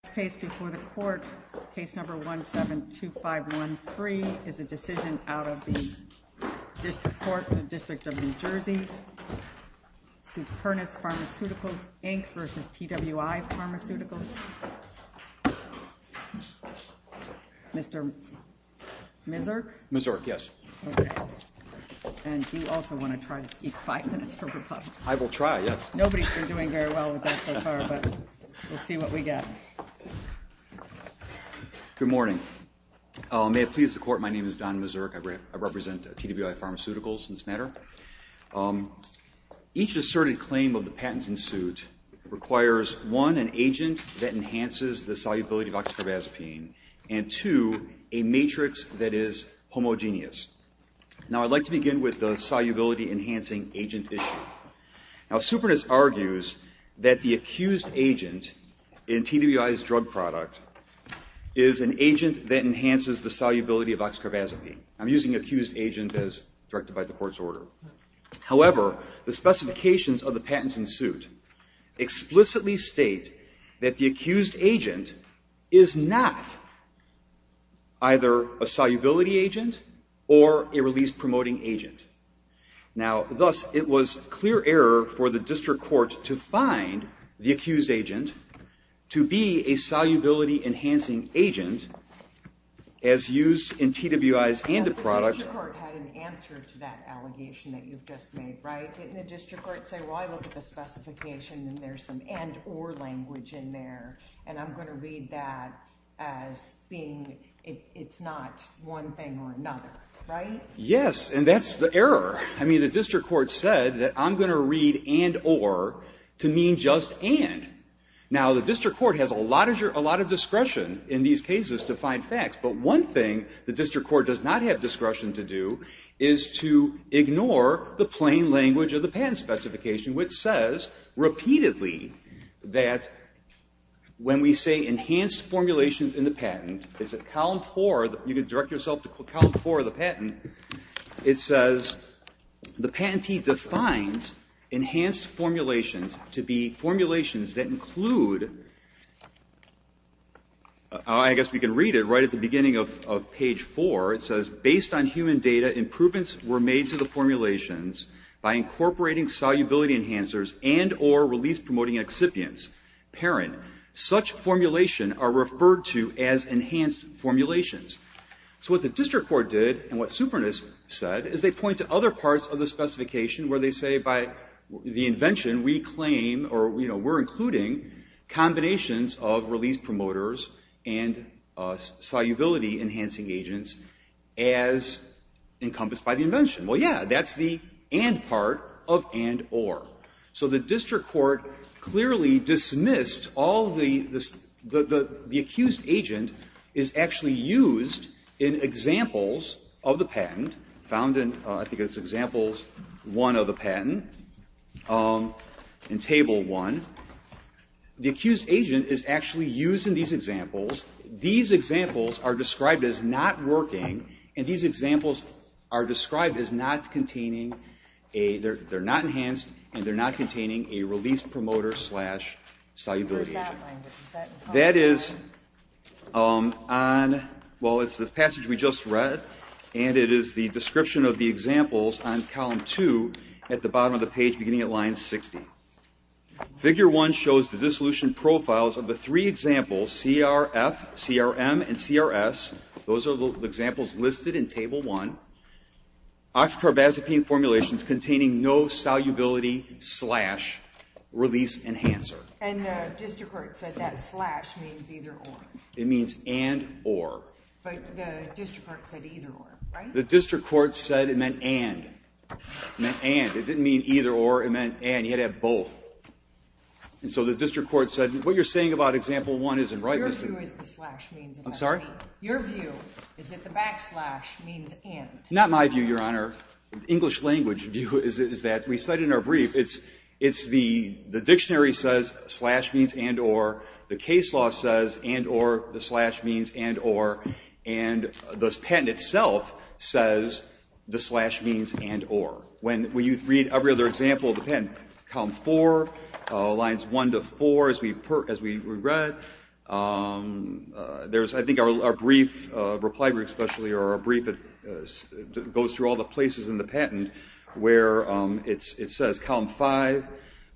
The next case before the court, Case No. 172513, is a decision out of the District Court, the District of New Jersey. Supernus Pharmaceuticals, Inc. v. TWi Pharmaceuticals, Inc. Mr. Misurk? Misurk, yes. Okay. And do you also want to try to keep five minutes for rebuttal? I will try, yes. Nobody's been doing very well with that so far, but we'll see what we get. Good morning. May it please the Court, my name is Don Misurk. I represent TWi Pharmaceuticals in this matter. Each asserted claim of the patents in suit requires, one, an agent that enhances the solubility of oxycarbazepine, and two, a matrix that is homogeneous. Now, I'd like to begin with the solubility-enhancing agent issue. Now, Supernus argues that the accused agent in TWi's drug product is an agent that enhances the solubility of oxycarbazepine. I'm using accused agent as directed by the Court's order. However, the specifications of the patents in suit explicitly state that the accused agent is not either a solubility agent or a release-promoting agent. Now, thus, it was clear error for the District Court to find the accused agent to be a solubility-enhancing agent as used in TWi's antiproduct. The District Court had an answer to that allegation that you've just made, right? Didn't the District Court say, well, I look at the specification and there's some and-or language in there, and I'm going to read that as being, it's not one thing or another, right? Yes, and that's the error. I mean, the District Court said that I'm going to read and-or to mean just and. Now, the District Court has a lot of discretion in these cases to find facts, but one thing the District Court does not have discretion to do is to ignore the plain language of the patent specification, which says repeatedly that when we say enhanced formulations in the patent, it's at column four, you can direct yourself to column four of the patent. It says the patentee defines enhanced formulations to be formulations that include, I guess we can read it right at the beginning of page four. It says based on human data, improvements were made to the formulations by incorporating solubility enhancers and-or release promoting excipients. Parent. Such formulation are referred to as enhanced formulations. So what the District Court did and what Superintendent said is they point to other parts of the specification where they say by the invention, we claim or we're including combinations of release promoters and solubility enhancing agents as encompassed by the invention. Well, yeah, that's the and part of and-or. So the District Court clearly dismissed all the accused agent is actually used in examples of the patent, found in, I think it's examples one of the patent, in table one. The accused agent is actually used in these examples. These examples are described as not working and these examples are described as not containing a, they're not enhanced and they're not containing a release promoter slash solubility agent. That is on, well, it's the passage we just read and it is the description of the examples on column two at the bottom of the page beginning at line 60. Figure one shows the dissolution profiles of the three examples, CRF, CRM, and CRS. Those are the examples listed in table one. Oxycarbazepine formulations containing no solubility slash release enhancer. And the District Court said that slash means either-or. It means and-or. But the District Court said either-or, right? The District Court said it meant and. It meant and. It didn't mean either-or. It meant and. You had to have both. And so the District Court said, what you're saying about example one isn't right, Mr. Your view is the slash means and. I'm sorry? Your view is that the backslash means and. Not my view, Your Honor. English language view is that we said in our brief, it's the dictionary says slash means and-or. The case law says and-or. The slash means and-or. And the patent itself says the slash means and-or. When you read every other example of the patent, column four, lines one to four, as we read, I think our brief, reply brief especially, or our brief that goes through all the places in the patent where it says column five,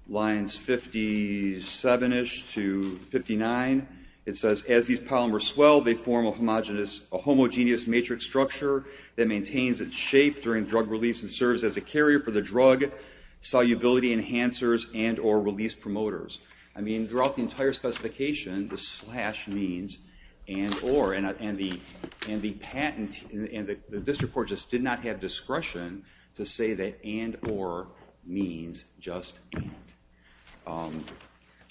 lines 57-ish to 59, it says as these polymers swell, they form a homogeneous matrix structure that maintains its shape during drug release and serves as a carrier for the drug solubility enhancers and-or release promoters. I mean, throughout the entire specification, the slash means and-or. And the patent, and the District Court just did not have discretion to say that and-or means just and.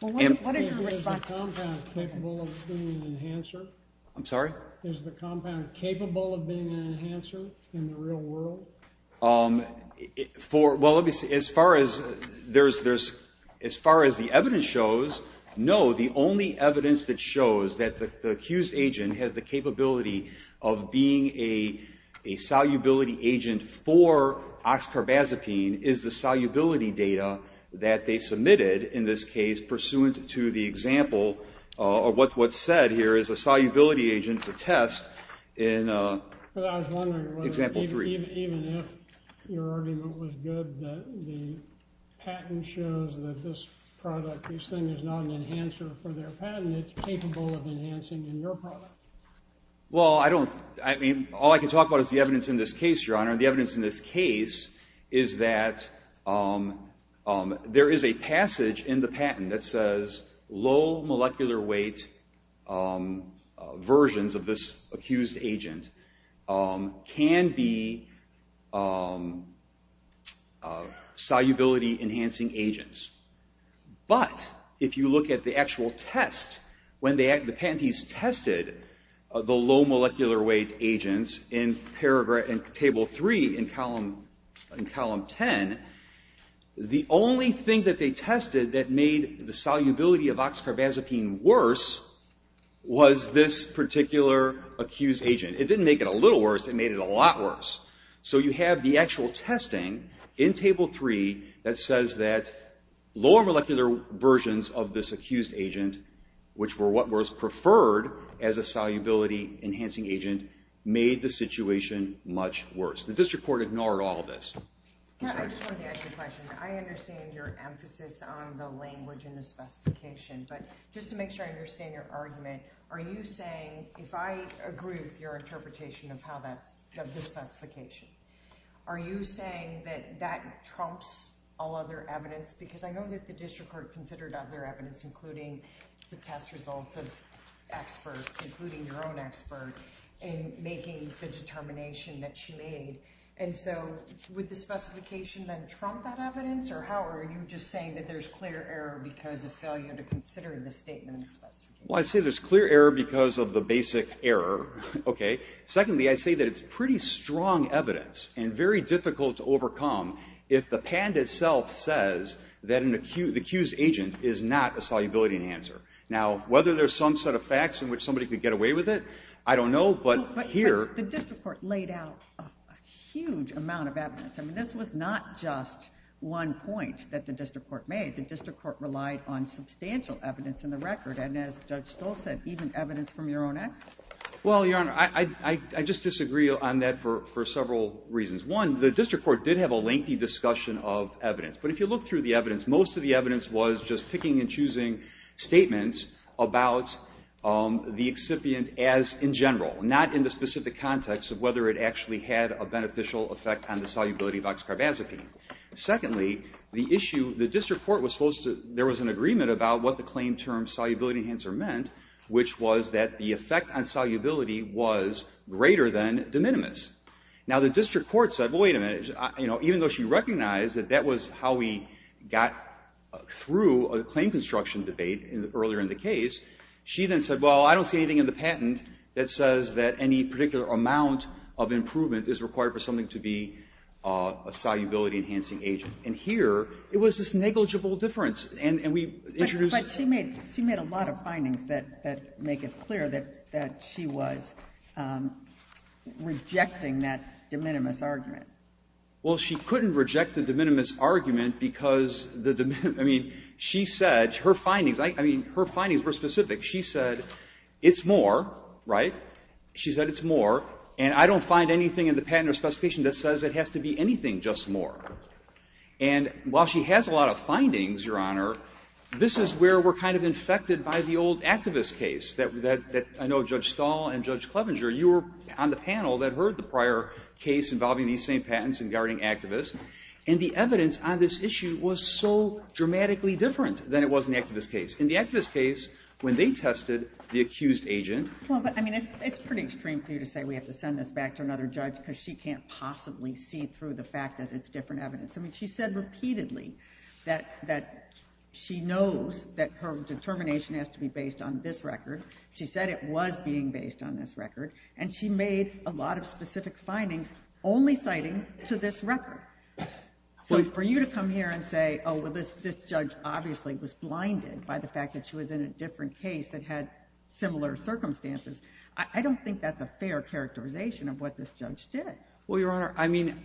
Well, what is your response? Is the compound capable of being an enhancer? I'm sorry? Is the compound capable of being an enhancer in the real world? Well, as far as the evidence shows, no. The only evidence that shows that the accused agent has the capability of being a solubility agent for oxcarbazepine is the solubility data that they submitted in this case pursuant to the example, or what's said here is a solubility agent to test in example three. But I was wondering whether, even if your argument was good that the patent shows that this product, this thing is not an enhancer for their patent, it's capable of enhancing in your product. Well, I don't, I mean, all I can talk about is the evidence in this case, Your Honor. The evidence in this case is that there is a passage in the patent that says, low molecular weight versions of this accused agent can be solubility enhancing agents. But if you look at the actual test, when the patentees tested the low molecular weight agents in paragraph, in table three in column ten, the only thing that they tested that made the solubility of oxcarbazepine worse was this particular accused agent. It didn't make it a little worse, it made it a lot worse. So you have the actual testing in table three that says that lower molecular versions of this accused agent, which were what was preferred as a solubility enhancing agent, made the situation much worse. The district court ignored all of this. Yeah, I just wanted to ask you a question. I understand your emphasis on the language and the specification, but just to make sure I understand your argument, are you saying, if I agree with your interpretation of how that's, of the specification, are you saying that that trumps all other evidence? Because I know that the district court considered other evidence, including the test results of experts, including your own expert, in making the determination that she made. And so would the specification then trump that evidence? Or how are you just saying that there's clear error because of failure to consider the statement of the specification? Well, I'd say there's clear error because of the basic error, okay? Secondly, I'd say that it's pretty strong evidence and very difficult to overcome if the patent itself says that an accused agent is not a solubility enhancer. Now, whether there's some set of facts in which somebody could get away with it, I don't know, but here- But the district court laid out a huge amount of evidence. I mean, this was not just one point that the district court made. The district court relied on substantial evidence in the record. And as Judge Stolz said, even evidence from your own expert. Well, Your Honor, I just disagree on that for several reasons. One, the district court did have a lengthy discussion of evidence. But if you look through the evidence, most of the evidence was just picking and choosing statements about the excipient as in general, not in the specific context of whether it actually had a beneficial effect on the solubility of oxcarbazepine. Secondly, the issue, the district court was supposed to- there was an agreement about what the claim term solubility enhancer meant, which was that the effect on solubility was greater than de minimis. Now, the district court said, well, wait a minute, you know, even though she recognized that that was how we got through a claim construction debate earlier in the case, she then said, well, I don't see anything in the patent that says that any particular amount of improvement is required for something to be a solubility-enhancing agent. And here, it was this negligible difference. And we introduced- But she made a lot of findings that make it clear that she was rejecting that de minimis argument. Well, she couldn't reject the de minimis argument because the de minimis- I mean, she said, her findings, I mean, her findings were specific. She said, it's more, right? She said it's more, and I don't find anything in the patent or specification that says it has to be anything just more. And while she has a lot of findings, Your Honor, this is where we're kind of infected by the old activist case that I know Judge Stahl and Judge Clevenger, you were on the panel that heard the prior case involving these same patents and guarding activists, and the evidence on this issue was so dramatically different than it was in the activist case. In the activist case, when they tested the accused agent- Well, but, I mean, it's pretty extreme for you to say we have to send this back to another judge because she can't possibly see through the fact that it's different evidence. I mean, she said repeatedly that she knows that her determination has to be based on this record. She said it was being based on this record. And she made a lot of specific findings only citing to this record. So for you to come here and say, oh, well, this judge obviously was blinded by the fact that she was in a different case that had similar circumstances, I don't think that's a fair characterization of what this judge did. Well, Your Honor, I mean,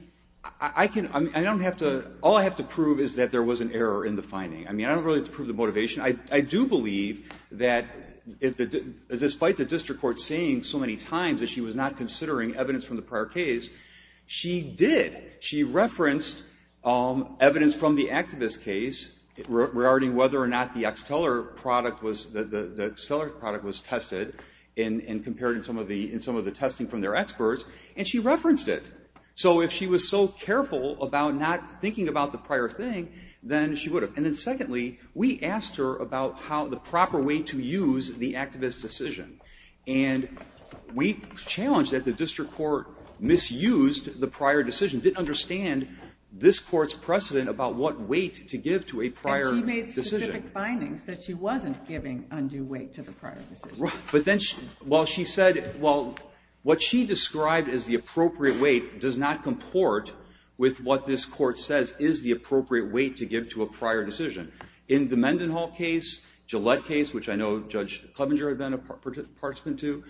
I can, I don't have to, all I have to prove is that there was an error in the finding. I mean, I don't really have to prove the motivation. I do believe that despite the district court saying so many times that she was not considering evidence from the prior case, she did. She referenced evidence from the activist case regarding whether or not the Xtellar product was, the Xtellar product was tested and compared in some of the testing from their experts, and she referenced it. So if she was so careful about not thinking about the prior thing, then she would have. And then secondly, we asked her about how, the proper way to use the activist decision. And we challenged that the district court misused the prior decision, didn't understand this court's precedent about what weight to give to a prior decision. And she made specific findings that she wasn't giving undue weight to the prior decision. But then, while she said, well, what she described as the appropriate weight does not comport with what this court says is the appropriate weight to give to a prior decision. In the Mendenhall case, Gillette case, which I know Judge Clevenger had been a participant to,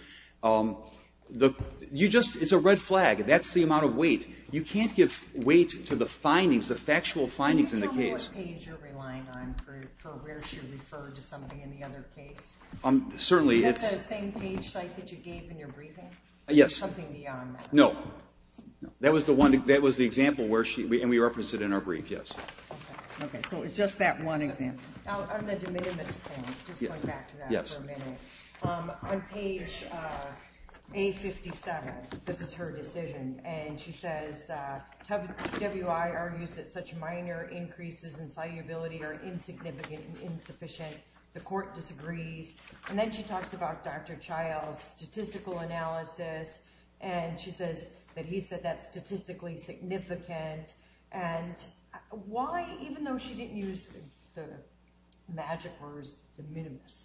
you just, it's a red flag. That's the amount of weight. You can't give weight to the findings, the factual findings in the case. Can you tell me what page you're relying on for where she referred to somebody in the other case? Certainly, it's- Is that the same page that you gave in your briefing? Yes. Something beyond that. No. That was the example where she, and we referenced it in our brief, yes. Okay, so it's just that one example. Now, on the de minimis thing, just going back to that for a minute. On page A57, this is her decision. And she says, TWI argues that such minor increases in salubility are insignificant and insufficient. The court disagrees. And then she talks about Dr. Child's statistical analysis. And she says that he said that's statistically significant. And why, even though she didn't use the magic words, de minimis,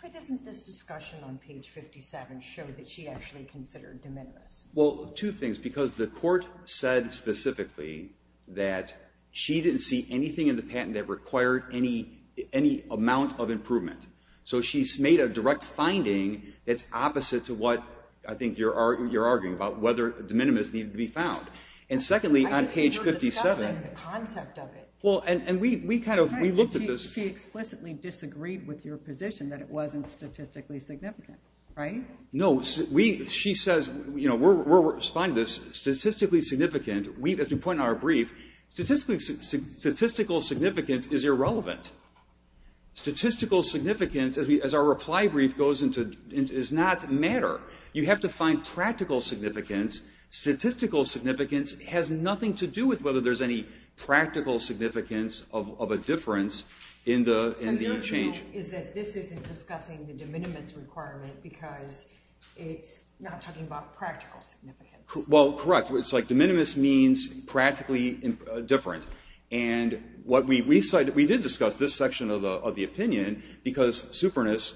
why doesn't this discussion on page 57 show that she actually considered de minimis? Well, two things. Because the court said specifically that she didn't see anything in the patent that required any amount of improvement. So, she's made a direct finding that's opposite to what I think you're arguing about, whether de minimis needed to be found. And secondly, on page 57- I can see you're discussing the concept of it. Well, and we kind of, we looked at this- She explicitly disagreed with your position that it wasn't statistically significant, right? No. She says, we're responding to this. Statistically significant, as we point in our brief, statistical significance is irrelevant. Statistical significance, as our reply brief goes into, does not matter. You have to find practical significance. Statistical significance has nothing to do with whether there's any practical significance of a difference in the change. So, your point is that this isn't discussing the de minimis requirement because it's not talking about practical significance. Well, correct. It's like de minimis means practically different. And what we did discuss, this section of the opinion, because superannus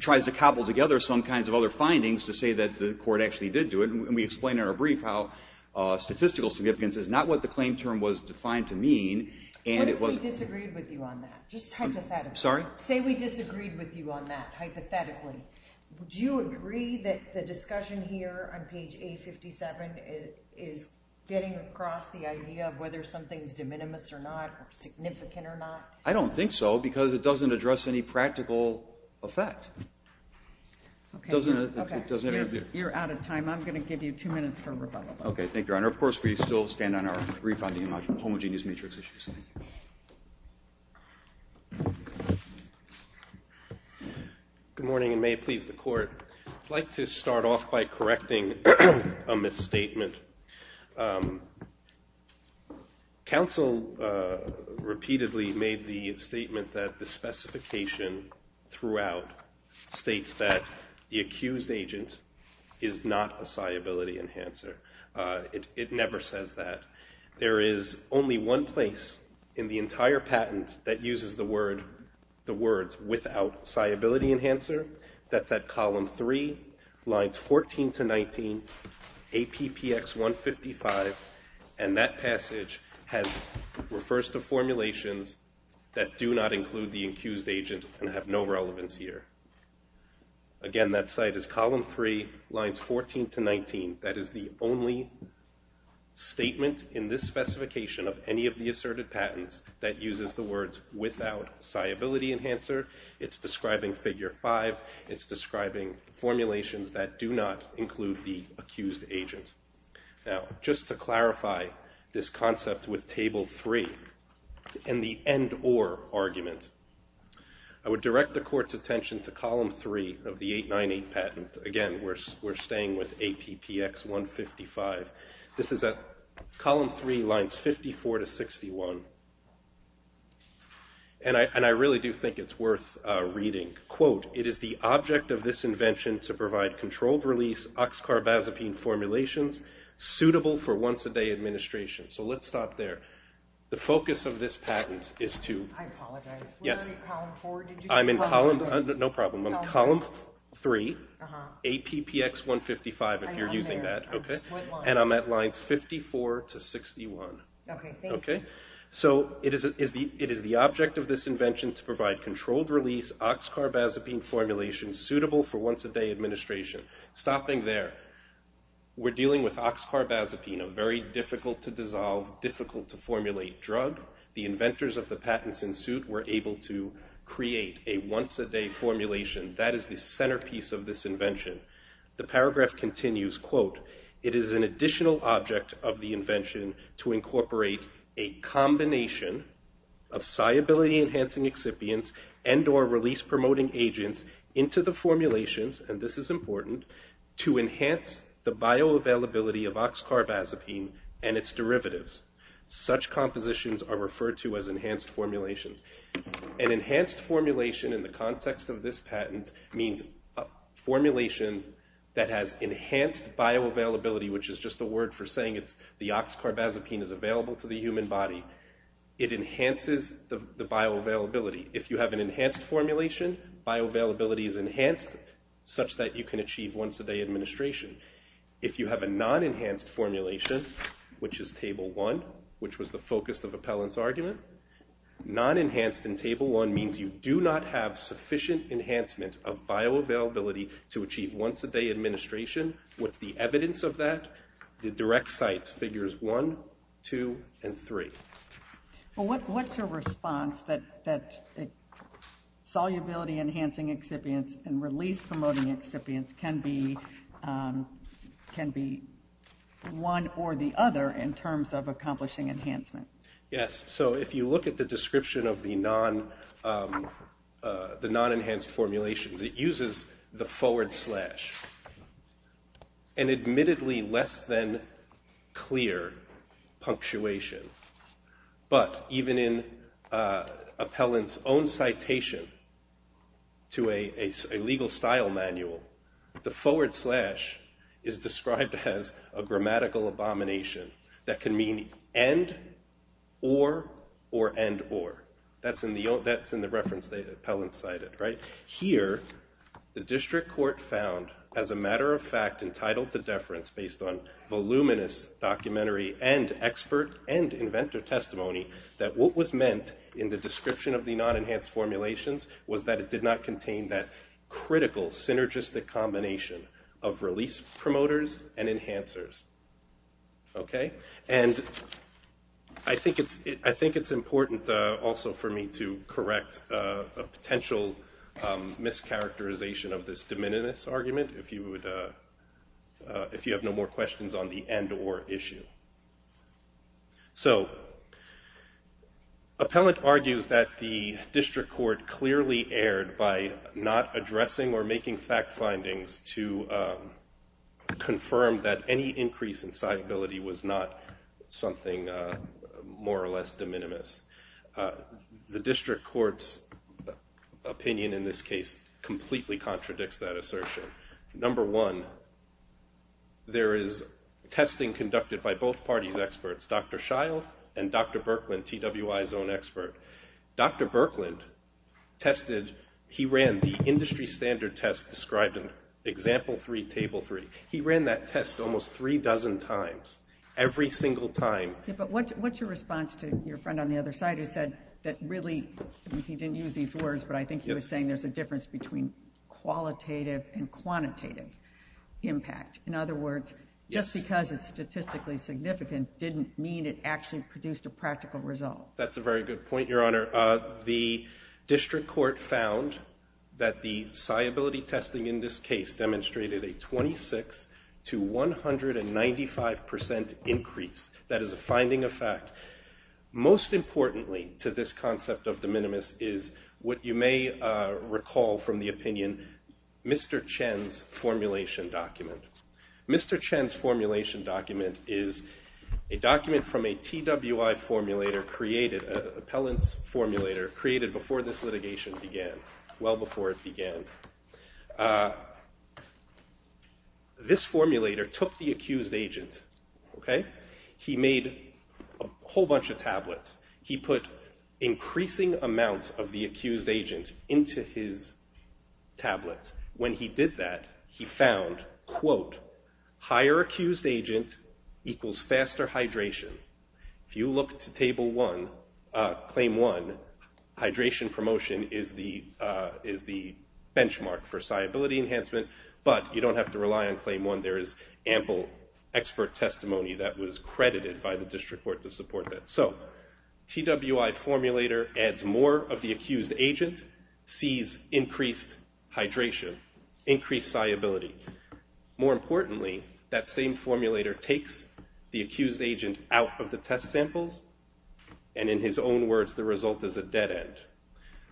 tries to cobble together some kinds of other findings to say that the court actually did do it, and we explained in our brief how statistical significance is not what the claim term was defined to mean, and it was- What if we disagreed with you on that? Just hypothetically. Sorry? Say we disagreed with you on that, hypothetically. Would you agree that the discussion here on page A57 is getting across the idea of whether something's de minimis or not, or significant or not? I don't think so, because it doesn't address any practical effect. Okay. It doesn't- Okay. You're out of time. I'm going to give you two minutes for rebuttal. Okay. Thank you, Your Honor. Of course, we still stand on our brief on homogeneous matrix issues. Thank you. Good morning, and may it please the court. I'd like to start off by correcting a misstatement. Counsel repeatedly made the statement that the specification throughout states that the accused agent is not a sciability enhancer. It never says that. There is only one place in the entire patent that uses the word- the words without sciability enhancer. That's at column three, lines 14 to 19, APPX 155, and that passage has- refers to formulations that do not include the accused agent and have no relevance here. Again, that site is column three, lines 14 to 19. That is the only statement in this specification of any of the asserted patents that uses the words without sciability enhancer. It's describing figure five. It's describing formulations that do not include the accused agent. Now, just to clarify this concept with table three, and the end or argument, I would direct the court's attention to column three of the 898 patent. Again, we're, we're staying with APPX 155. This is at column three, lines 54 to 61, and I, and I really do think it's worth reading. Quote, it is the object of this invention to provide controlled release oxcarbazepine formulations suitable for once a day administration. So let's stop there. The focus of this patent is to- I apologize. Yes. We're in column four. I'm in column, no problem. I'm in column three, APPX 155 if you're using that. Okay. And I'm at lines 54 to 61. Okay, thank you. So it is, it is the, it is the object of this invention to provide controlled release oxcarbazepine formulations suitable for once a day administration. Stopping there, we're dealing with oxcarbazepine, a very difficult to dissolve, difficult to formulate drug. The inventors of the patents in suit were able to create a once a day formulation. That is the centerpiece of this invention. The paragraph continues, quote, it is an additional object of the invention to incorporate a combination of solubility enhancing excipients and or release promoting agents into the formulations, and this is important, to enhance the bioavailability of oxcarbazepine and its derivatives. Such compositions are referred to as enhanced formulations. An enhanced formulation in the context of this patent means a formulation that has enhanced bioavailability, which is just a word for saying it's the oxcarbazepine is available to the human body. It enhances the bioavailability. If you have an enhanced formulation, bioavailability is enhanced such that you can achieve once a day administration. If you have a non-enhanced formulation, which is table one, which was the focus of Appellant's argument. Non-enhanced in table one means you do not have sufficient enhancement of bioavailability to achieve once a day administration. What's the evidence of that? The direct sites figures one, two, and three. Well, what's your response that solubility enhancing excipients and release promoting excipients can be one or the other in terms of accomplishing enhancement? Yes, so if you look at the description of the non-enhanced formulations, it uses the forward slash, an admittedly less than clear punctuation. But even in Appellant's own citation to a legal style manual, the forward slash is described as a grammatical abomination that can mean and, or, or, and, or. That's in the reference that Appellant cited, right? Here, the district court found, as a matter of fact, entitled to deference based on voluminous documentary and expert and inventor testimony, that what was meant in the description of the non-enhanced formulations was that it did not contain that critical synergistic combination of release promoters and enhancers, okay? And I think it's important also for me to correct a potential mischaracterization of this de minimis argument if you have no more questions on the end or issue. So, Appellant argues that the district court clearly erred by not addressing or making fact findings to confirm that any increase in citability was not something more or less de minimis. The district court's opinion in this case completely contradicts that assertion. Number one, there is testing conducted by both parties' experts, Dr. Shile and Dr. Birkland, TWI's own expert. Dr. Birkland tested, he ran the industry standard test described in example three, table three. He ran that test almost three dozen times, every single time. But what's your response to your friend on the other side who said that really, he didn't use these words, but I think he was saying there's a difference between qualitative and quantitative impact. In other words, just because it's statistically significant didn't mean it actually produced a practical result. That's a very good point, your honor. The district court found that the citability testing in this case demonstrated a 26 to 195% increase. That is a finding of fact. Most importantly to this concept of de minimis is what you may recall from the opinion, Mr. Chen's formulation document. Mr. Chen's formulation document is a document from a TWI formulator created, an appellant's formulator created before this litigation began, well before it began. This formulator took the accused agent, okay? He made a whole bunch of tablets. He put increasing amounts of the accused agent into his tablets. When he did that, he found, quote, higher accused agent equals faster hydration. If you look to table one, claim one, hydration promotion is the benchmark for that, but you don't have to rely on claim one. There is ample expert testimony that was credited by the district court to support that. So, TWI formulator adds more of the accused agent, sees increased hydration, increased citability. More importantly, that same formulator takes the accused agent out of the test samples, and in his own words, the result is a dead end.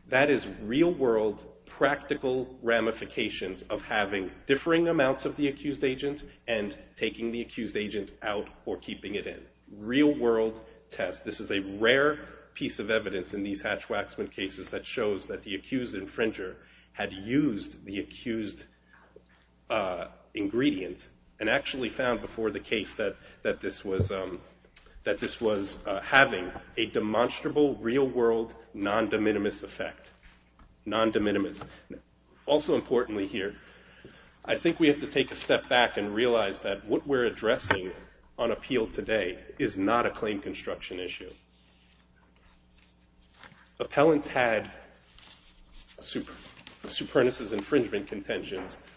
That is real world practical ramifications of having differing amounts of the accused agent and taking the accused agent out or keeping it in. Real world test. This is a rare piece of evidence in these Hatch-Waxman cases that shows that the accused infringer had used the accused ingredient and actually found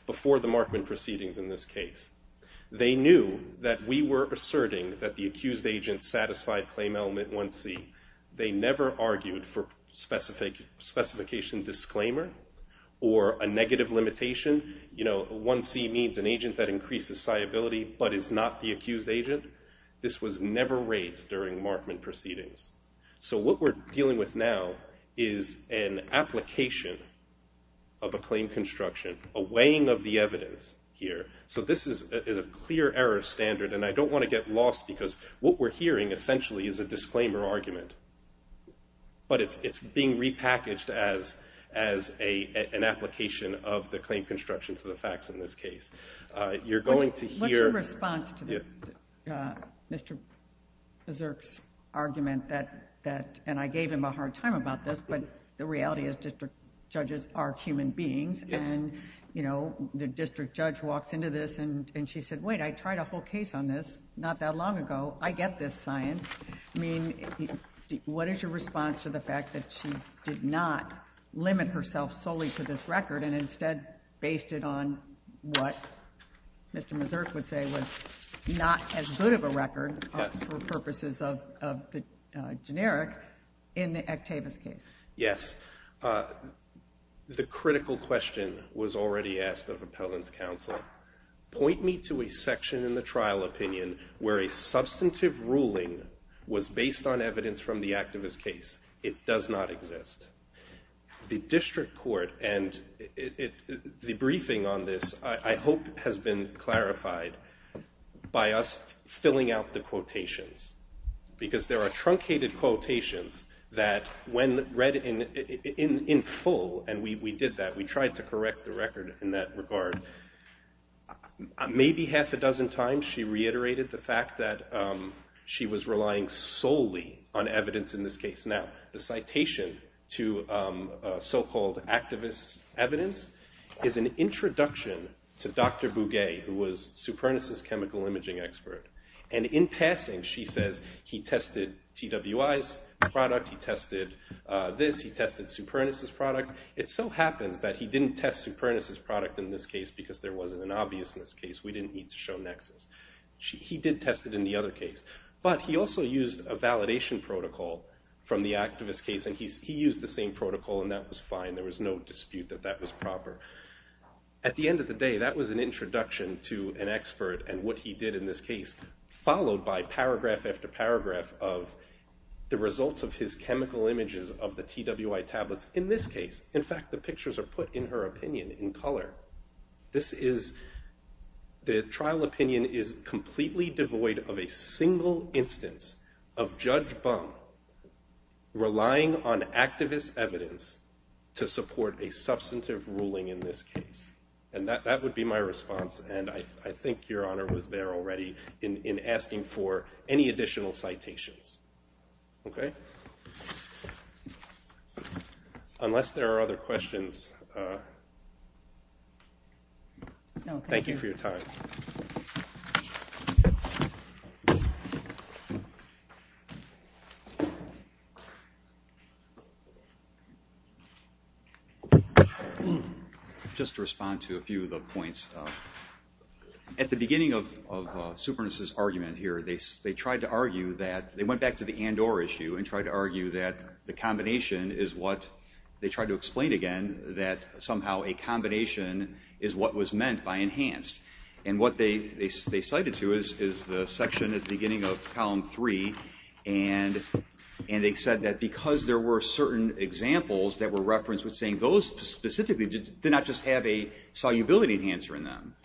before the Markman proceedings in this case. They knew that we were asserting that the accused agent satisfied claim element 1C. I think we have to take a step back and realize that what we're addressing on appeal today is not a claim construction issue. Appellants had superannuos infringement contentions before the Markman proceedings in this case. They knew that we were asserting that the accused agent satisfied claim element 1C. They never argued for specification disclaimer or a negative limitation. You know, 1C means an agent that increases citability but is not the accused agent. This was never raised during Markman proceedings. So what we're dealing with now is an application of a claim construction, a weighing of the evidence here. So this is a clear error standard, and I don't want to get lost because what we're hearing essentially is a disclaimer argument, but it's being repackaged as an application of the claim construction to the facts in this case. You're going to hear... What's your response to Mr. Berserk's argument that, and I gave him a hard time about this, but the reality is district judges are human beings and, you know, the district judge walks into this and she said, wait, I tried a whole case on this not that long ago. I get this science. I mean, what is your response to the fact that she did not limit herself solely to this record and instead based it on what Mr. Berserk would say was not as good of a record for purposes of the generic in the Ectavius case? Yes. The critical question was already asked of Appellant's counsel. Point me to a section in the trial opinion where a substantive ruling was based on evidence from the Ectavius case. It does not exist. The district court and the briefing on this, I hope, has been clarified by us filling out the quotations because there are truncated quotations that when read in full, and we did that, we tried to correct the record in that regard, maybe half a dozen times she reiterated the fact that she was relying solely on evidence in this case. Now, the citation to so-called activist evidence is an introduction to Dr. Bugay, who was Supernus' chemical imaging expert. And in passing, she says he tested TWI's product. He tested this. He tested Supernus' product. It so happens that he didn't test Supernus' product in this case because there wasn't an obviousness case. We didn't need to show nexus. He did test it in the other case. But he also used a validation protocol from the activist case, and he used the same protocol, and that was fine. There was no dispute that that was proper. At the end of the day, that was an introduction to an expert and what he did in this case, followed by paragraph after paragraph of the results of his chemical images of the TWI tablets in this case. In fact, the pictures are put in her opinion in color. This is, the trial opinion is completely devoid of a single instance of Judge Bung relying on activist evidence to support a substantive ruling in this case. And that would be my response. And I think Your Honor was there already in asking for any additional citations. Okay? Unless there are other questions, thank you for your time. Just to respond to a few of the points, at the beginning of Superintendent's argument here, they tried to argue that, they went back to the Andorra issue and tried to argue that the combination is what, they tried to explain again that somehow a combination is what was meant by enhanced. And what they cited to is the section at the beginning of column three, and they said that because there were certain examples that were referenced with saying those specifically did not just have a solubility enhancer in them,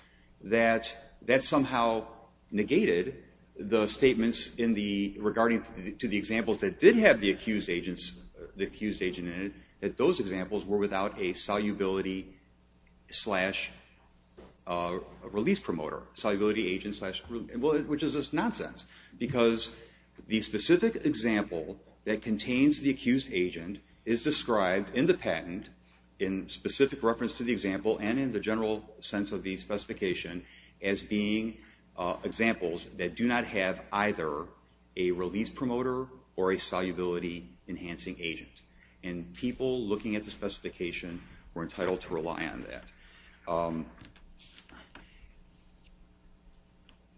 that that somehow negated the statements in the, regarding to the examples that did have the accused agent in it, that those examples were without a solubility slash release promoter, solubility agent slash, which is just nonsense. Because the specific example that contains the accused agent is described in the patent, in specific reference to the example, and in the general sense of the specification, as being examples that do not have either a release promoter or a solubility enhancing agent. And people looking at the specification were entitled to rely on that.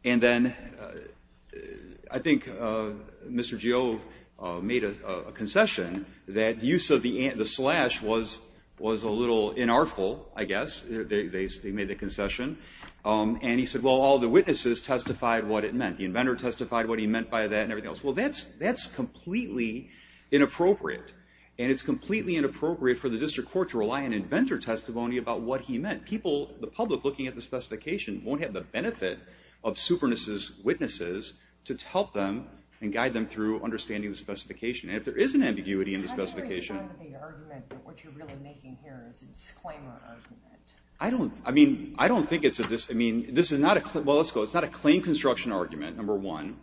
And then I think Mr. Giove made a concession that use of the slash was a little inartful, I guess, they made the concession. And he said, well, all the witnesses testified what it meant. The inventor testified what he meant by that and everything else. Well, that's completely inappropriate. And it's completely inappropriate for the district court to rely on inventor testimony about what he meant. People, the public looking at the specification, won't have the benefit of superness's witnesses to help them and guide them through understanding the specification. And if there is an ambiguity in the specification. I agree strongly with the argument that what you're really making here is a disclaimer argument. I don't, I mean, I don't think it's a, I mean, this is not a, well, let's go, it's not a claim construction argument, number one.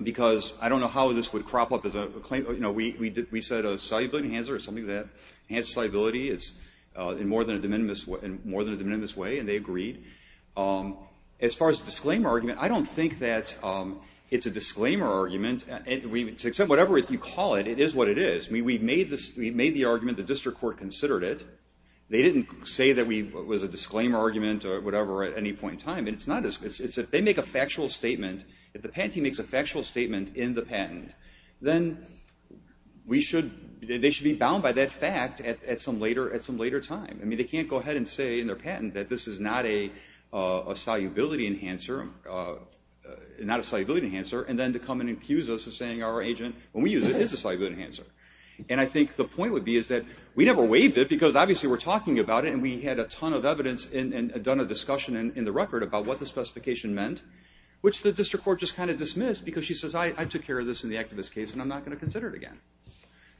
Because I don't know how this would crop up as a claim, you know, we said a salubility enhancer is something that enhances salubility in more than a de minimis, in more than a de minimis way, and they agreed. As far as disclaimer argument, I don't think that it's a disclaimer argument. We, except whatever you call it, it is what it is. We made the argument, the district court considered it. They didn't say that we, it was a disclaimer argument or whatever at any point in time. And it's not, it's if they make a factual statement, if the patent team makes a factual statement in the patent, then we should, they should be bound by that fact at some later time. I mean, they can't go ahead and say in their patent that this is not a salubility enhancer, not a salubility enhancer, and then to come and accuse us of saying our agent, when we use it, is a salubility enhancer. And I think the point would be is that we never waived it because obviously we're talking about it and we had a ton of evidence and done a discussion in the record about what the specification meant. Which the district court just kind of dismissed because she says, I took care of this in the activist case and I'm not going to consider it again.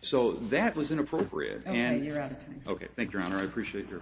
So that was inappropriate. Okay, you're out of time. Okay. Thank you, Your Honor. I appreciate your indulgence.